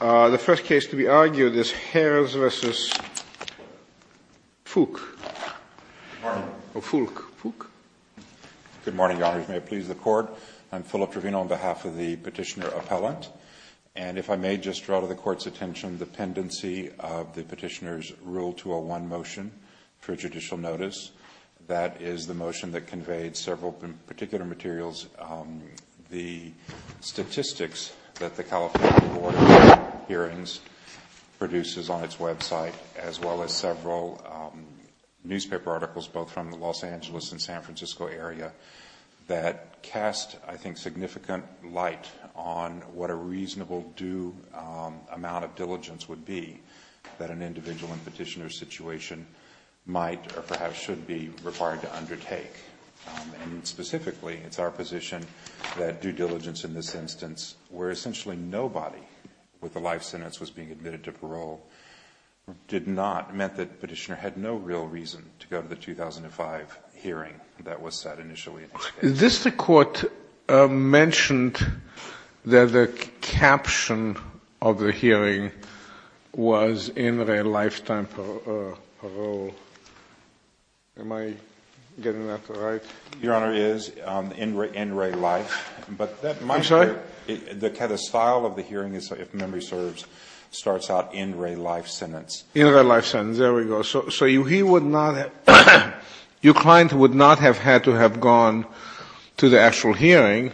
The first case to be argued is Harris v. Fouke. Good morning. Oh, Fouke. Fouke? Good morning, Your Honors. May it please the Court? I'm Philip Trevino on behalf of the petitioner appellant. And if I may just draw to the Court's attention the pendency of the petitioner's Rule 201 motion for judicial notice. That is the motion that conveyed several particular materials. The statistics that the California Board of Hearings produces on its website, as well as several newspaper articles, both from the Los Angeles and San Francisco area, that cast, I think, significant light on what a reasonable due amount of diligence would be that an individual in a petitioner's situation might or perhaps should be required to undertake. And specifically, it's our position that due diligence in this instance, where essentially nobody with a life sentence was being admitted to parole, did not mean that the petitioner had no real reason to go to the 2005 hearing that was set initially. Is this the Court mentioned that the caption of the hearing was in re lifetime parole? Am I getting that right? Your Honor, it is in re life. I'm sorry? The kind of style of the hearing, if memory serves, starts out in re life sentence. In re life sentence. There we go. So he would not have, your client would not have had to have gone to the actual hearing.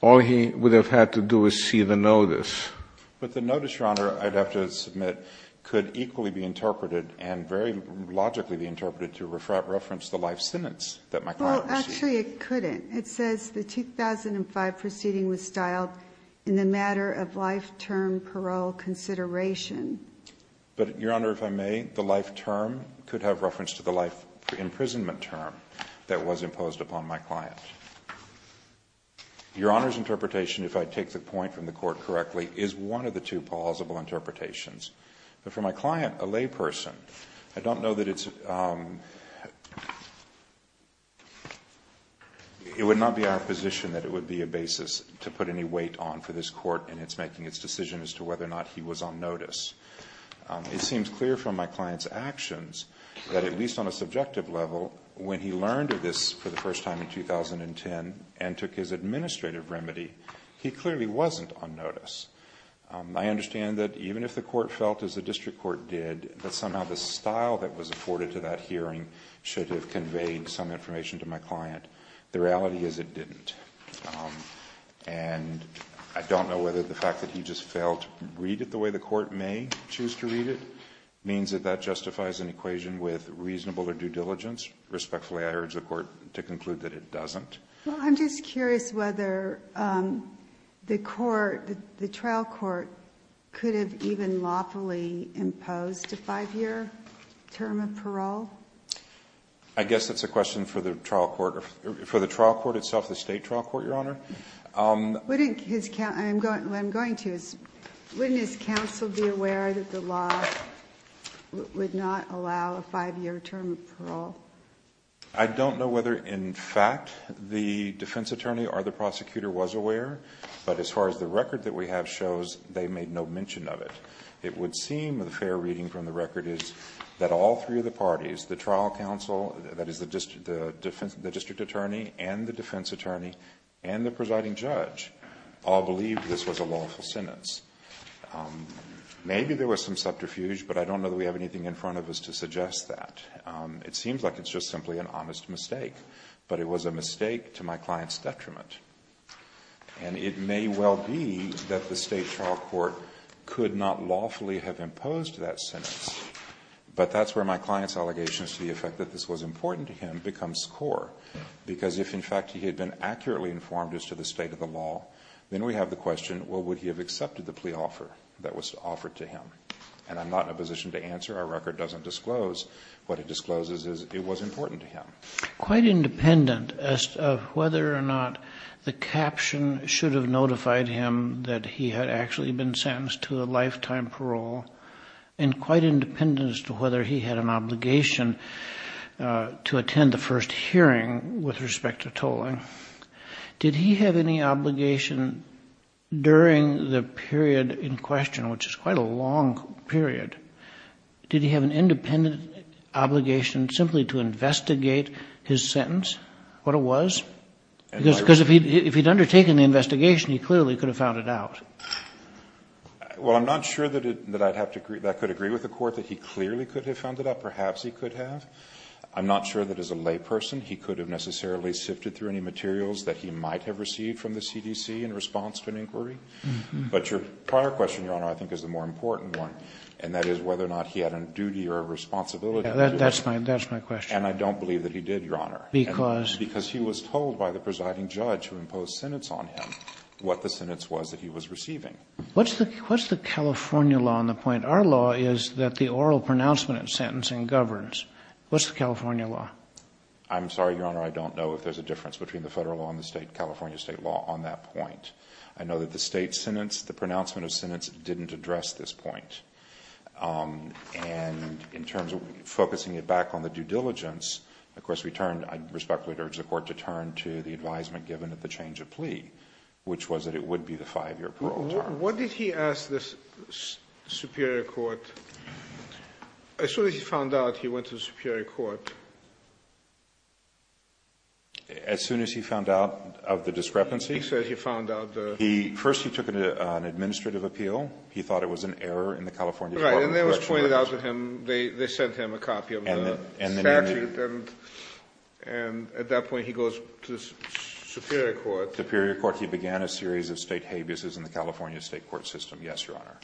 All he would have had to do is see the notice. But the notice, Your Honor, I'd have to submit, could equally be interpreted and very logically be interpreted to reference the life sentence that my client received. Well, actually, it couldn't. It says the 2005 proceeding was styled in the matter of lifetime parole consideration. But, Your Honor, if I may, the life term could have reference to the life imprisonment term that was imposed upon my client. Your Honor's interpretation, if I take the point from the Court correctly, is one of the two plausible interpretations. But for my client, a layperson, I don't know that it's – it would not be our position that it would be a basis to put any weight on for this Court in its making its decision as to whether or not he was on notice. It seems clear from my client's actions that at least on a subjective level, when he learned of this for the first time in 2010 and took his administrative remedy, he clearly wasn't on notice. I understand that even if the Court felt, as the district court did, that somehow the style that was afforded to that hearing should have conveyed some information to my client. The reality is it didn't. And I don't know whether the fact that he just failed to read it the way the Court may choose to read it means that that justifies an equation with reasonable or due diligence. Respectfully, I urge the Court to conclude that it doesn't. Well, I'm just curious whether the Court, the trial court, could have even lawfully imposed a 5-year term of parole. I guess that's a question for the trial court. For the trial court itself, the State trial court, Your Honor. Wouldn't his counsel be aware that the law would not allow a 5-year term of parole? I don't know whether, in fact, the defense attorney or the prosecutor was aware, but as far as the record that we have shows, they made no mention of it. It would seem a fair reading from the record is that all three of the parties, the trial counsel, that is the district attorney, and the defense attorney, and the presiding judge, all believed this was a lawful sentence. Maybe there was some subterfuge, but I don't know that we have anything in front of us to suggest that. It seems like it's just simply an honest mistake. But it was a mistake to my client's detriment. And it may well be that the State trial court could not lawfully have imposed that sentence. But that's where my client's allegations to the effect that this was important to him becomes core. Because if, in fact, he had been accurately informed as to the state of the law, then we have the question, well, would he have accepted the plea offer that was offered to him? And I'm not in a position to answer. Our record doesn't disclose. What it discloses is it was important to him. Quite independent as to whether or not the caption should have notified him that he had actually been sentenced to a lifetime parole, and quite independent as to whether he had an obligation to attend the first hearing with respect to tolling. Did he have any obligation during the period in question, which is quite a long period, did he have an independent obligation simply to investigate his sentence, what it was? Because if he had undertaken the investigation, he clearly could have found it out. Well, I'm not sure that I could agree with the court that he clearly could have found it out. Perhaps he could have. I'm not sure that as a layperson he could have necessarily sifted through any materials that he might have received from the CDC in response to an inquiry. But your prior question, Your Honor, I think is the more important one, and that is whether or not he had a duty or a responsibility to do it. That's my question. And I don't believe that he did, Your Honor. Because? Because he was told by the presiding judge who imposed sentence on him what the sentence was that he was receiving. What's the California law on the point? Our law is that the oral pronouncement of sentencing governs. What's the California law? I'm sorry, Your Honor, I don't know if there's a difference between the Federal law and the California state law on that point. I know that the state sentence, the pronouncement of sentence, didn't address this point. And in terms of focusing it back on the due diligence, of course, we turned, I respect it, I would urge the Court to turn to the advisement given at the change of plea, which was that it would be the 5-year parole term. What did he ask the superior court? As soon as he found out he went to the superior court. As soon as he found out of the discrepancy. He said he found out the. First he took an administrative appeal. He thought it was an error in the California Department of Corrections. Right. And then it was pointed out to him. They sent him a copy of the statute. Right. And at that point he goes to the superior court. Superior court. He began a series of state habeas in the California state court system. Yes, Your Honor.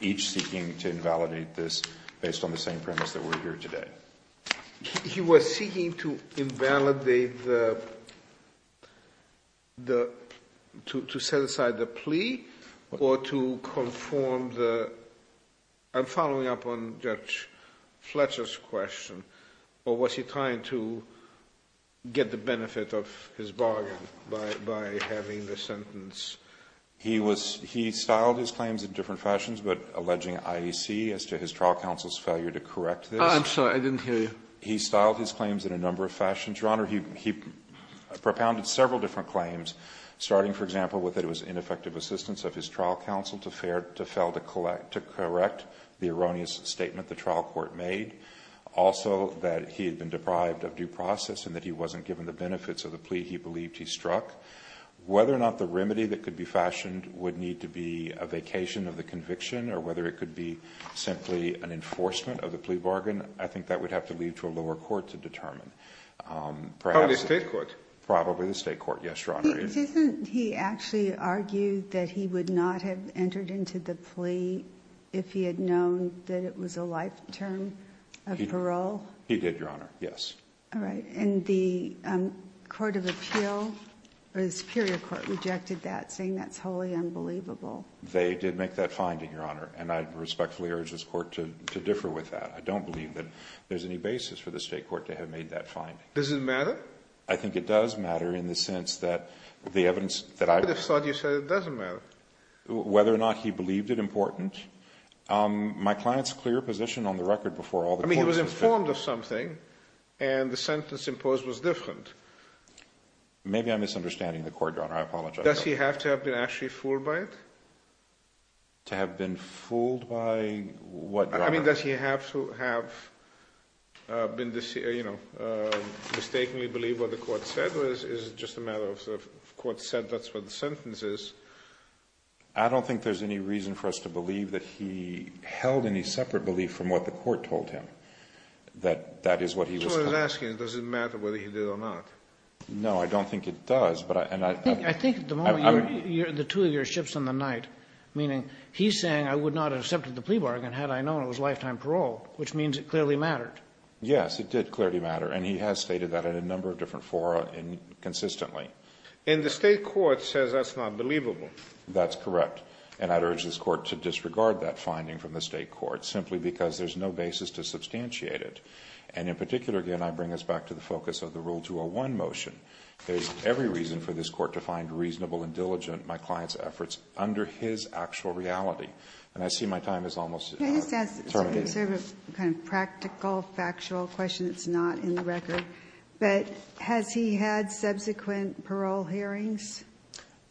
Each seeking to invalidate this based on the same premise that we're here today. He was seeking to invalidate the, to set aside the plea or to conform the. I'm following up on Judge Fletcher's question. Or was he trying to get the benefit of his bargain by having the sentence? He was, he styled his claims in different fashions, but alleging IEC as to his trial counsel's failure to correct this. I'm sorry, I didn't hear you. He styled his claims in a number of fashions. Your Honor, he propounded several different claims, starting, for example, with that trial counsel to fail to correct the erroneous statement the trial court made. Also, that he had been deprived of due process and that he wasn't given the benefits of the plea he believed he struck. Whether or not the remedy that could be fashioned would need to be a vacation of the conviction or whether it could be simply an enforcement of the plea bargain, I think that would have to leave to a lower court to determine. Probably the state court. Probably the state court. Yes, Your Honor. Didn't he actually argue that he would not have entered into the plea if he had known that it was a life term of parole? He did, Your Honor. Yes. All right. And the court of appeal, or the superior court, rejected that, saying that's wholly unbelievable. They did make that finding, Your Honor, and I respectfully urge this court to differ with that. I don't believe that there's any basis for the state court to have made that finding. Does it matter? I think it does matter in the sense that the evidence that I've... I just thought you said it doesn't matter. Whether or not he believed it important, my client's clear position on the record before all the courts... I mean, he was informed of something, and the sentence imposed was different. Maybe I'm misunderstanding the court, Your Honor. I apologize. Does he have to have been actually fooled by it? To have been fooled by what, Your Honor? I mean, does he have to have been, you know, mistakenly believed what the court said, or is it just a matter of the court said that's what the sentence is? I don't think there's any reason for us to believe that he held any separate belief from what the court told him, that that is what he was... So I was asking, does it matter whether he did or not? No, I don't think it does, but I... I think at the moment, the two of you are ships in the night, meaning he's saying I would not have accepted the plea bargain had I known it was lifetime parole, which means it clearly mattered. Yes, it did clearly matter, and he has stated that in a number of different fora consistently. And the state court says that's not believable. That's correct, and I'd urge this court to disregard that finding from the state court, simply because there's no basis to substantiate it. And in particular, again, I bring us back to the focus of the Rule 201 motion. There's every reason for this court to find reasonable and diligent my client's actual reality. And I see my time is almost terminated. Can I just ask, sort of a kind of practical, factual question that's not in the record, but has he had subsequent parole hearings?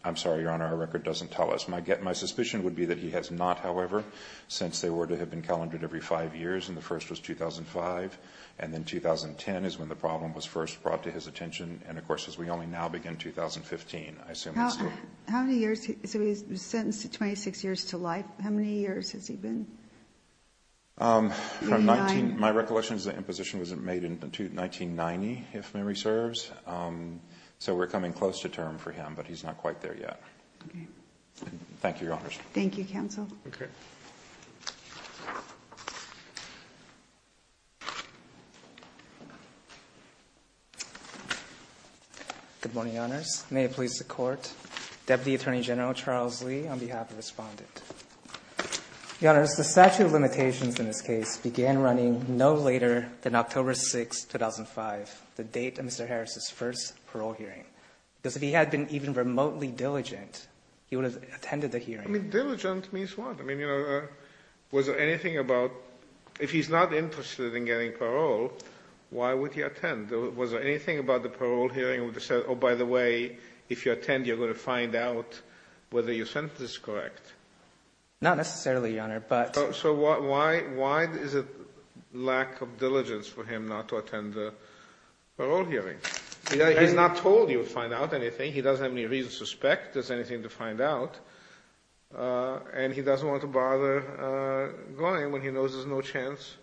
I'm sorry, Your Honor, our record doesn't tell us. My suspicion would be that he has not, however, since they were to have been calendared every five years, and the first was 2005, and then 2010 is when the problem was first brought to his attention, and of course, as we only now begin 2015, I assume that's true. How many years? So he was sentenced to 26 years to life. How many years has he been? My recollection is the imposition was made in 1990, if memory serves. So we're coming close to term for him, but he's not quite there yet. Okay. Thank you, Your Honors. Thank you, counsel. Okay. Good morning, Your Honors. May it please the Court. Deputy Attorney General Charles Lee on behalf of the Respondent. Your Honors, the statute of limitations in this case began running no later than October 6, 2005, the date of Mr. Harris' first parole hearing. Because if he had been even remotely diligent, he would have attended the hearing. Diligent means what? I mean, you know, was there anything about if he's not interested in getting parole, why would he attend? Was there anything about the parole hearing where they said, oh, by the way, if you attend, you're going to find out whether your sentence is correct? Not necessarily, Your Honor, but... So why is it lack of diligence for him not to attend the parole hearing? He's not told he would find out anything. He doesn't have any reason to suspect there's anything to find out, and he doesn't want to bother going when he knows there's no chance.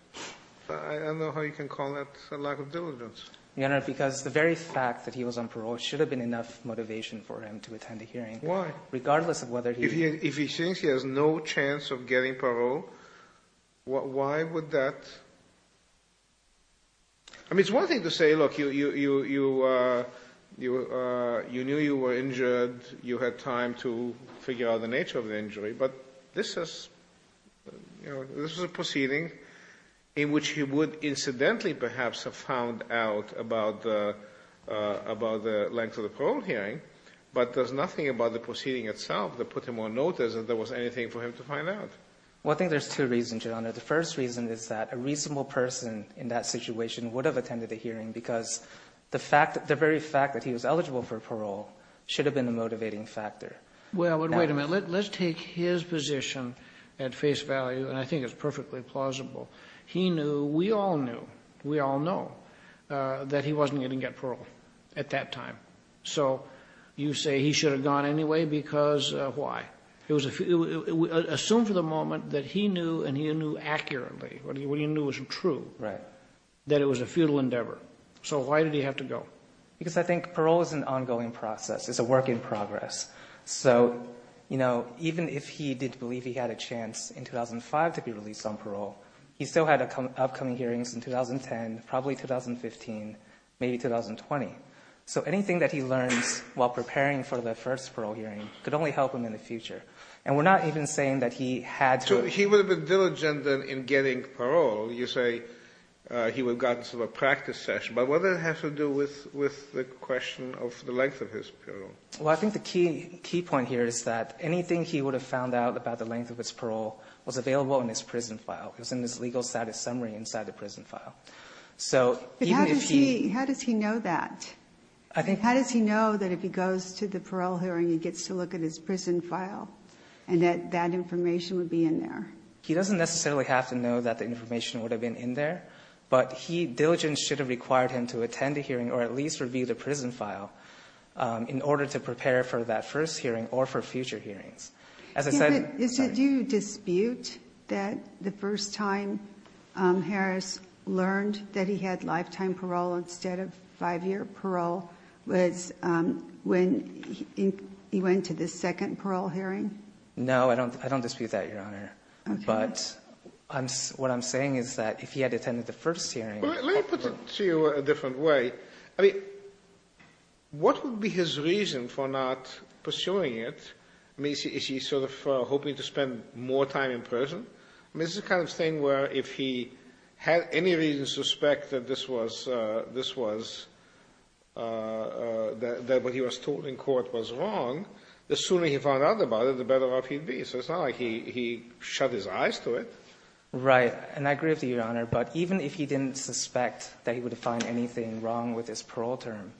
I don't know how you can call that a lack of diligence. Your Honor, because the very fact that he was on parole should have been enough motivation for him to attend a hearing. Why? Regardless of whether he... If he thinks he has no chance of getting parole, why would that... I mean, it's one thing to say, look, you knew you were injured, you had time to figure out the nature of the injury, but this is a proceeding in which he would incidentally perhaps have found out about the length of the parole hearing, but there's nothing about the proceeding itself that put him on notice that there was anything for him to find out. Well, I think there's two reasons, Your Honor. The first reason is that a reasonable person in that situation would have attended a hearing because the very fact that he was eligible for parole should have been a motivating factor. Well, wait a minute. Let's take his position at face value, and I think it's perfectly plausible. He knew, we all knew, we all know, that he wasn't going to get parole at that time. So you say he should have gone anyway because why? Assume for the moment that he knew, and he knew accurately, what he knew was true, that it was a futile endeavor. So why did he have to go? Because I think parole is an ongoing process. It's a work in progress. So, you know, even if he did believe he had a chance in 2005 to be released on parole, he still had upcoming hearings in 2010, probably 2015, maybe 2020. So anything that he learns while preparing for the first parole hearing could only help him in the future. And we're not even saying that he had to. So he would have been diligent in getting parole. You say he would have gotten some practice session. But what does it have to do with the question of the length of his parole? Well, I think the key point here is that anything he would have found out about the length of his parole was available in his prison file. It was in his legal status summary inside the prison file. So even if he… But how does he know that? I think… How does he know that if he goes to the parole hearing and gets to look at his prison file and that that information would be in there? He doesn't necessarily have to know that the information would have been in there. But he, diligent, should have required him to attend a hearing or at least review the information in order to prepare for that first hearing or for future hearings. As I said… Do you dispute that the first time Harris learned that he had lifetime parole instead of five-year parole was when he went to the second parole hearing? No, I don't dispute that, Your Honor. Okay. But what I'm saying is that if he had attended the first hearing… Let me put it to you a different way. I mean, what would be his reason for not pursuing it? I mean, is he sort of hoping to spend more time in prison? I mean, this is the kind of thing where if he had any reason to suspect that this was… that what he was told in court was wrong, the sooner he found out about it, the better off he'd be. So it's not like he shut his eyes to it. Right. And I agree with you, Your Honor. But even if he didn't suspect that he would find anything wrong with his parole term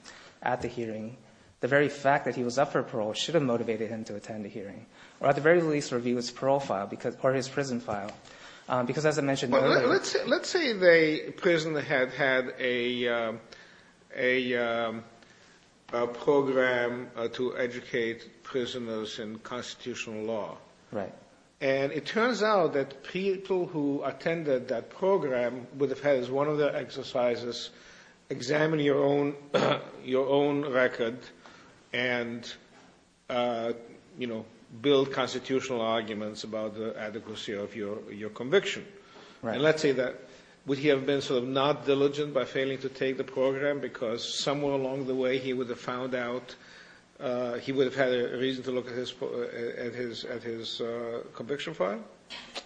at the hearing, the very fact that he was up for parole should have motivated him to attend the hearing or at the very least review his parole file or his prison file. Because as I mentioned earlier… Well, let's say the prison had had a program to educate prisoners in constitutional law. Right. And it turns out that people who attended that program would have had as one of their exercises examine your own record and, you know, build constitutional arguments about the adequacy of your conviction. Right. And let's say that would he have been sort of not diligent by failing to take the program because somewhere along the way he would have found out… he would have had a reason to at his conviction file?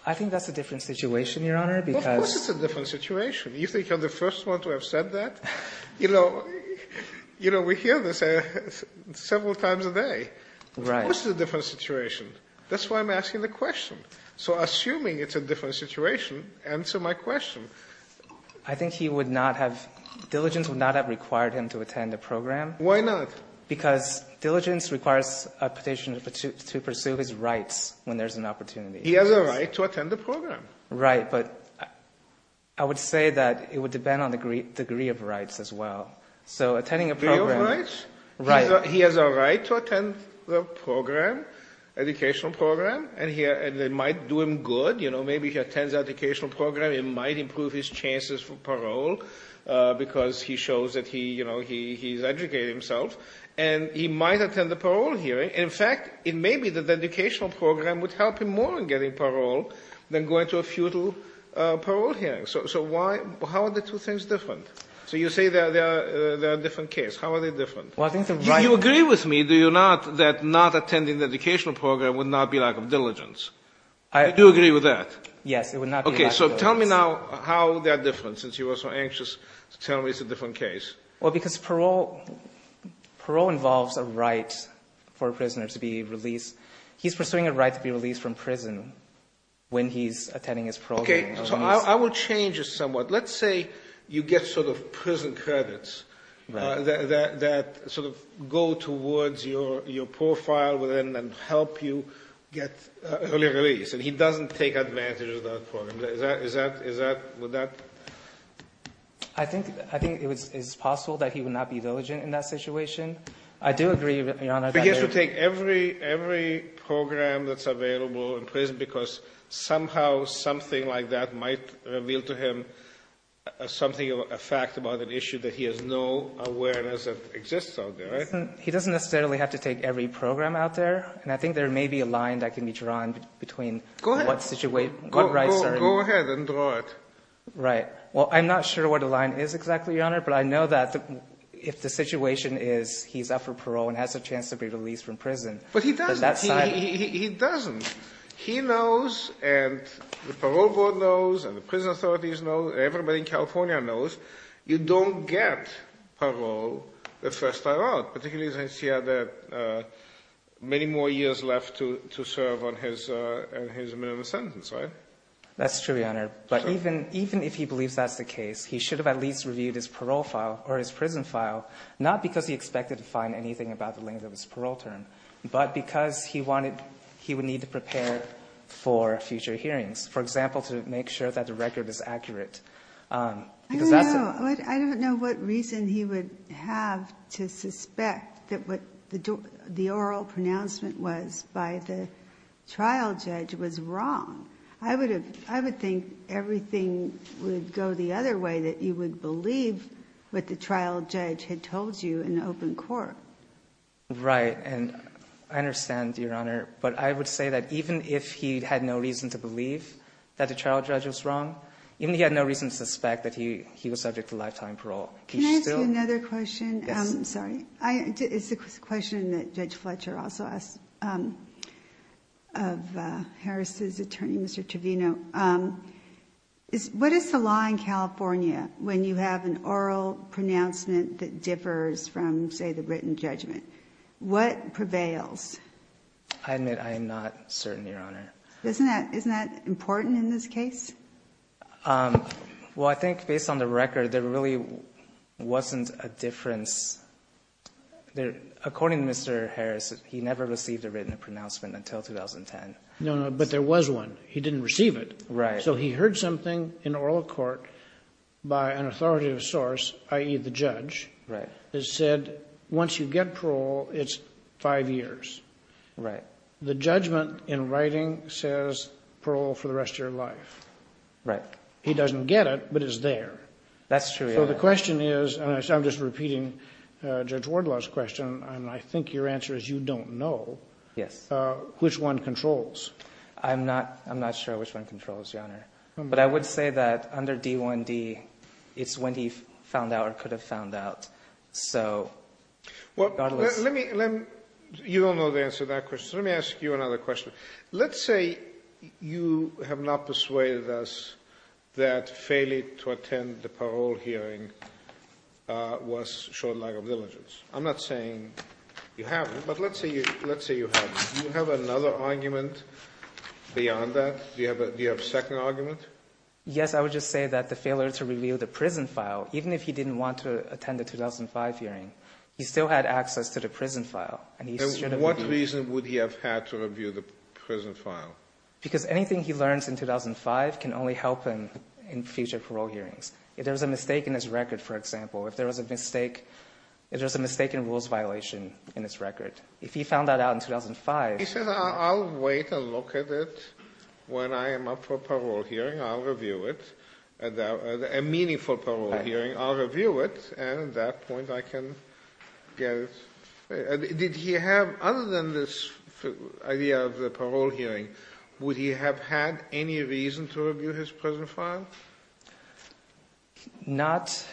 I think that's a different situation, Your Honor, because… Of course it's a different situation. You think you're the first one to have said that? You know, we hear this several times a day. Right. Of course it's a different situation. That's why I'm asking the question. So assuming it's a different situation, answer my question. I think he would not have… diligence would not have required him to attend the program. Why not? Because diligence requires a petition to pursue his rights when there's an opportunity. He has a right to attend the program. Right. But I would say that it would depend on the degree of rights as well. So attending a program… Degree of rights? Right. He has a right to attend the program, educational program, and it might do him good. You know, maybe he attends the educational program. It might improve his chances for parole because he shows that he, you know, he's educated himself, and he might attend the parole hearing. In fact, it may be that the educational program would help him more in getting parole than going to a futile parole hearing. So why? How are the two things different? So you say they are a different case. How are they different? You agree with me, do you not, that not attending the educational program would not be lack of diligence? I do agree with that. Yes. It would not be lack of diligence. Okay. So tell me now how they are different, since you were so anxious to tell me it's a different case. Well, because parole involves a right for a prisoner to be released. He's pursuing a right to be released from prison when he's attending his parole hearing. Okay. So I will change this somewhat. Let's say you get sort of prison credits that sort of go towards your profile within and help you get early release, and he doesn't take advantage of that program. Would that… I think it is possible that he would not be diligent in that situation. I do agree, Your Honor. But he has to take every program that's available in prison because somehow something like that might reveal to him something, a fact about an issue that he has no awareness of exists out there, right? He doesn't necessarily have to take every program out there, and I think there may be a line that can be drawn between what situation… Go ahead. Go ahead and draw it. Right. Well, I'm not sure what the line is exactly, Your Honor, but I know that if the situation is he's up for parole and has a chance to be released from prison… But he doesn't.… on that side. He doesn't. He knows, and the parole board knows, and the prison authorities know, and everybody in California knows, you don't get parole the first time out, particularly since he had many more years left to serve on his minimum sentence, right? That's true, Your Honor. But even if he believes that's the case, he should have at least reviewed his parole file or his prison file, not because he expected to find anything about the length of his parole term, but because he wanted… he would need to prepare for future hearings, for example, to make sure that the record is accurate. I don't know. I don't know what reason he would have to suspect that what the oral pronouncement was by the trial judge was wrong. I would think everything would go the other way, that you would believe what the trial judge had told you in open court. Right. And I understand, Your Honor, but I would say that even if he had no reason to believe that the trial judge was wrong, even if he had no reason to suspect that he was subject to lifetime parole, he still… Can I ask you another question? Yes. I'm sorry. It's a question that Judge Fletcher also asked of Harris' attorney, Mr. Trevino. What is the law in California when you have an oral pronouncement that differs from, say, the written judgment? What prevails? I admit I am not certain, Your Honor. Isn't that important in this case? Well, I think based on the record, there really wasn't a difference. According to Mr. Harris, he never received a written pronouncement until 2010. No, no. But there was one. He didn't receive it. Right. So he heard something in oral court by an authoritative source, i.e., the judge, that said once you get parole, it's five years. Right. The judgment in writing says parole for the rest of your life. Right. He doesn't get it, but it's there. That's true, Your Honor. So the question is, and I'm just repeating Judge Wardlaw's question, and I think your answer is you don't know… Yes.… which one controls. I'm not sure which one controls, Your Honor. But I would say that under D1D, it's when he found out or could have found out. Well, you don't know the answer to that question, so let me ask you another question. Let's say you have not persuaded us that failing to attend the parole hearing was short lag of diligence. I'm not saying you haven't, but let's say you haven't. Do you have another argument beyond that? Do you have a second argument? Yes. I would just say that the failure to review the prison file, even if he didn't want to attend the 2005 hearing, he still had access to the prison file. And what reason would he have had to review the prison file? Because anything he learns in 2005 can only help him in future parole hearings. If there was a mistake in his record, for example, if there was a mistake in rules violation in his record, if he found that out in 2005… He says, I'll wait and look at it. When I am up for parole hearing, I'll review it. A meaningful parole hearing, I'll review it, and at that point I can get it. Did he have, other than this idea of the parole hearing, would he have had any reason to review his prison file? Not.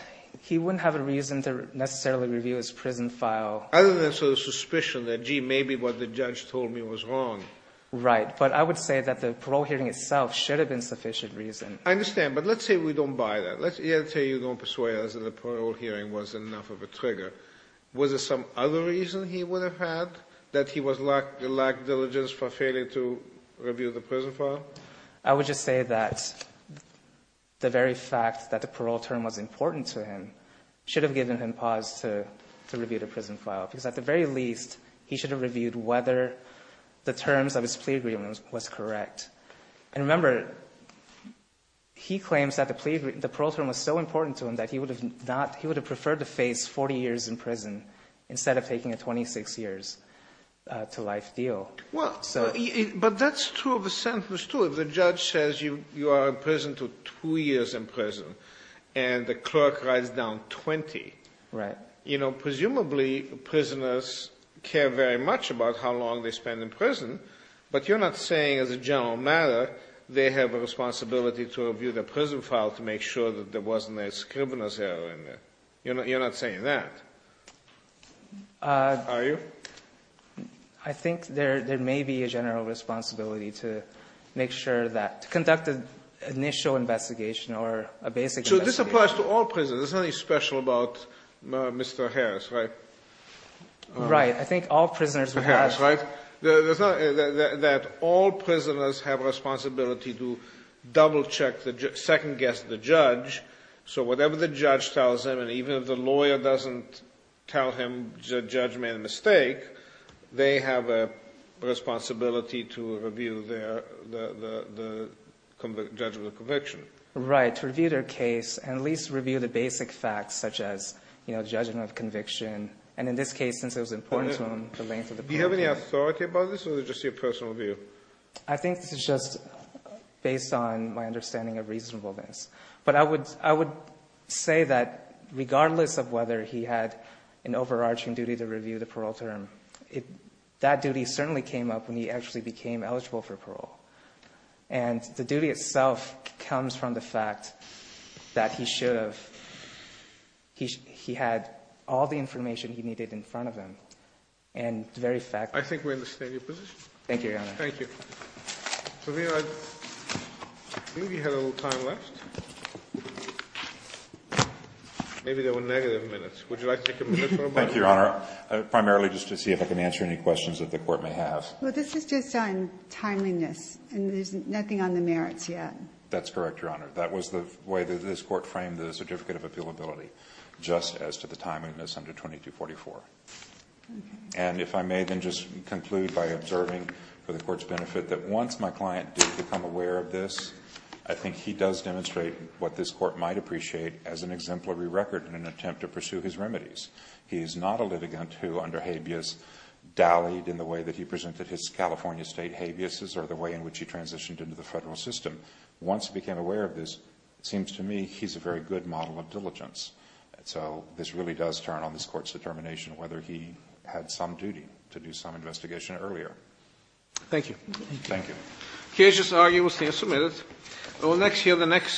He wouldn't have a reason to necessarily review his prison file. Other than sort of suspicion that, gee, maybe what the judge told me was wrong. Right. But I would say that the parole hearing itself should have been sufficient reason. I understand. But let's say we don't buy that. Let's say you don't persuade us that the parole hearing was enough of a trigger. Was there some other reason he would have had that he lacked diligence for failing to review the prison file? I would just say that the very fact that the parole term was important to him should have given him pause to review the prison file. Because at the very least, he should have reviewed whether the terms of his plea agreement was correct. And remember, he claims that the parole term was so important to him that he would have preferred to face 40 years in prison instead of taking a 26 years to life deal. Well, but that's true of a sentence, too. If the judge says you are in prison to 2 years in prison and the clerk writes down 20, you know, presumably prisoners care very much about how long they spend in prison, but you're not saying as a general matter they have a responsibility to review the prison file to make sure that there wasn't a scrivener's error in there. You're not saying that, are you? I think there may be a general responsibility to make sure that to conduct an initial investigation or a basic investigation. So this applies to all prisoners. There's nothing special about Mr. Harris, right? Right. I think all prisoners would have. That's right. That all prisoners have a responsibility to double check the second guess of the judge, so whatever the judge tells them, and even if the lawyer doesn't tell him the judge made a mistake, they have a responsibility to review their, the judgment of conviction. Right. To review their case and at least review the basic facts such as, you know, judgment of conviction. And in this case, since it was important to him the length of the parole term. Do you have any authority about this or is it just your personal view? I think this is just based on my understanding of reasonableness. But I would say that regardless of whether he had an overarching duty to review the parole term, that duty certainly came up when he actually became eligible for parole. And the duty itself comes from the fact that he should have. He had all the information he needed in front of him. And the very fact. I think we understand your position. Thank you, Your Honor. Thank you. I think we have a little time left. Maybe there were negative minutes. Would you like to take a minute? Thank you, Your Honor. Primarily just to see if I can answer any questions that the Court may have. Well, this is just on timeliness and there's nothing on the merits yet. That's correct, Your Honor. That was the way that this Court framed the Certificate of Appealability, just as to the timeliness under 2244. And if I may then just conclude by observing for the Court's benefit that once my client did become aware of this, I think he does demonstrate what this Court might appreciate as an exemplary record in an attempt to pursue his remedies. He is not a litigant who, under habeas, dallied in the way that he presented his California state habeases or the way in which he transitioned into the federal system. Once he became aware of this, it seems to me he's a very good model of diligence. So this really does turn on this Court's determination whether he had some duty to do some investigation earlier. Thank you. Thank you. The case is argued. We'll see you in a few minutes.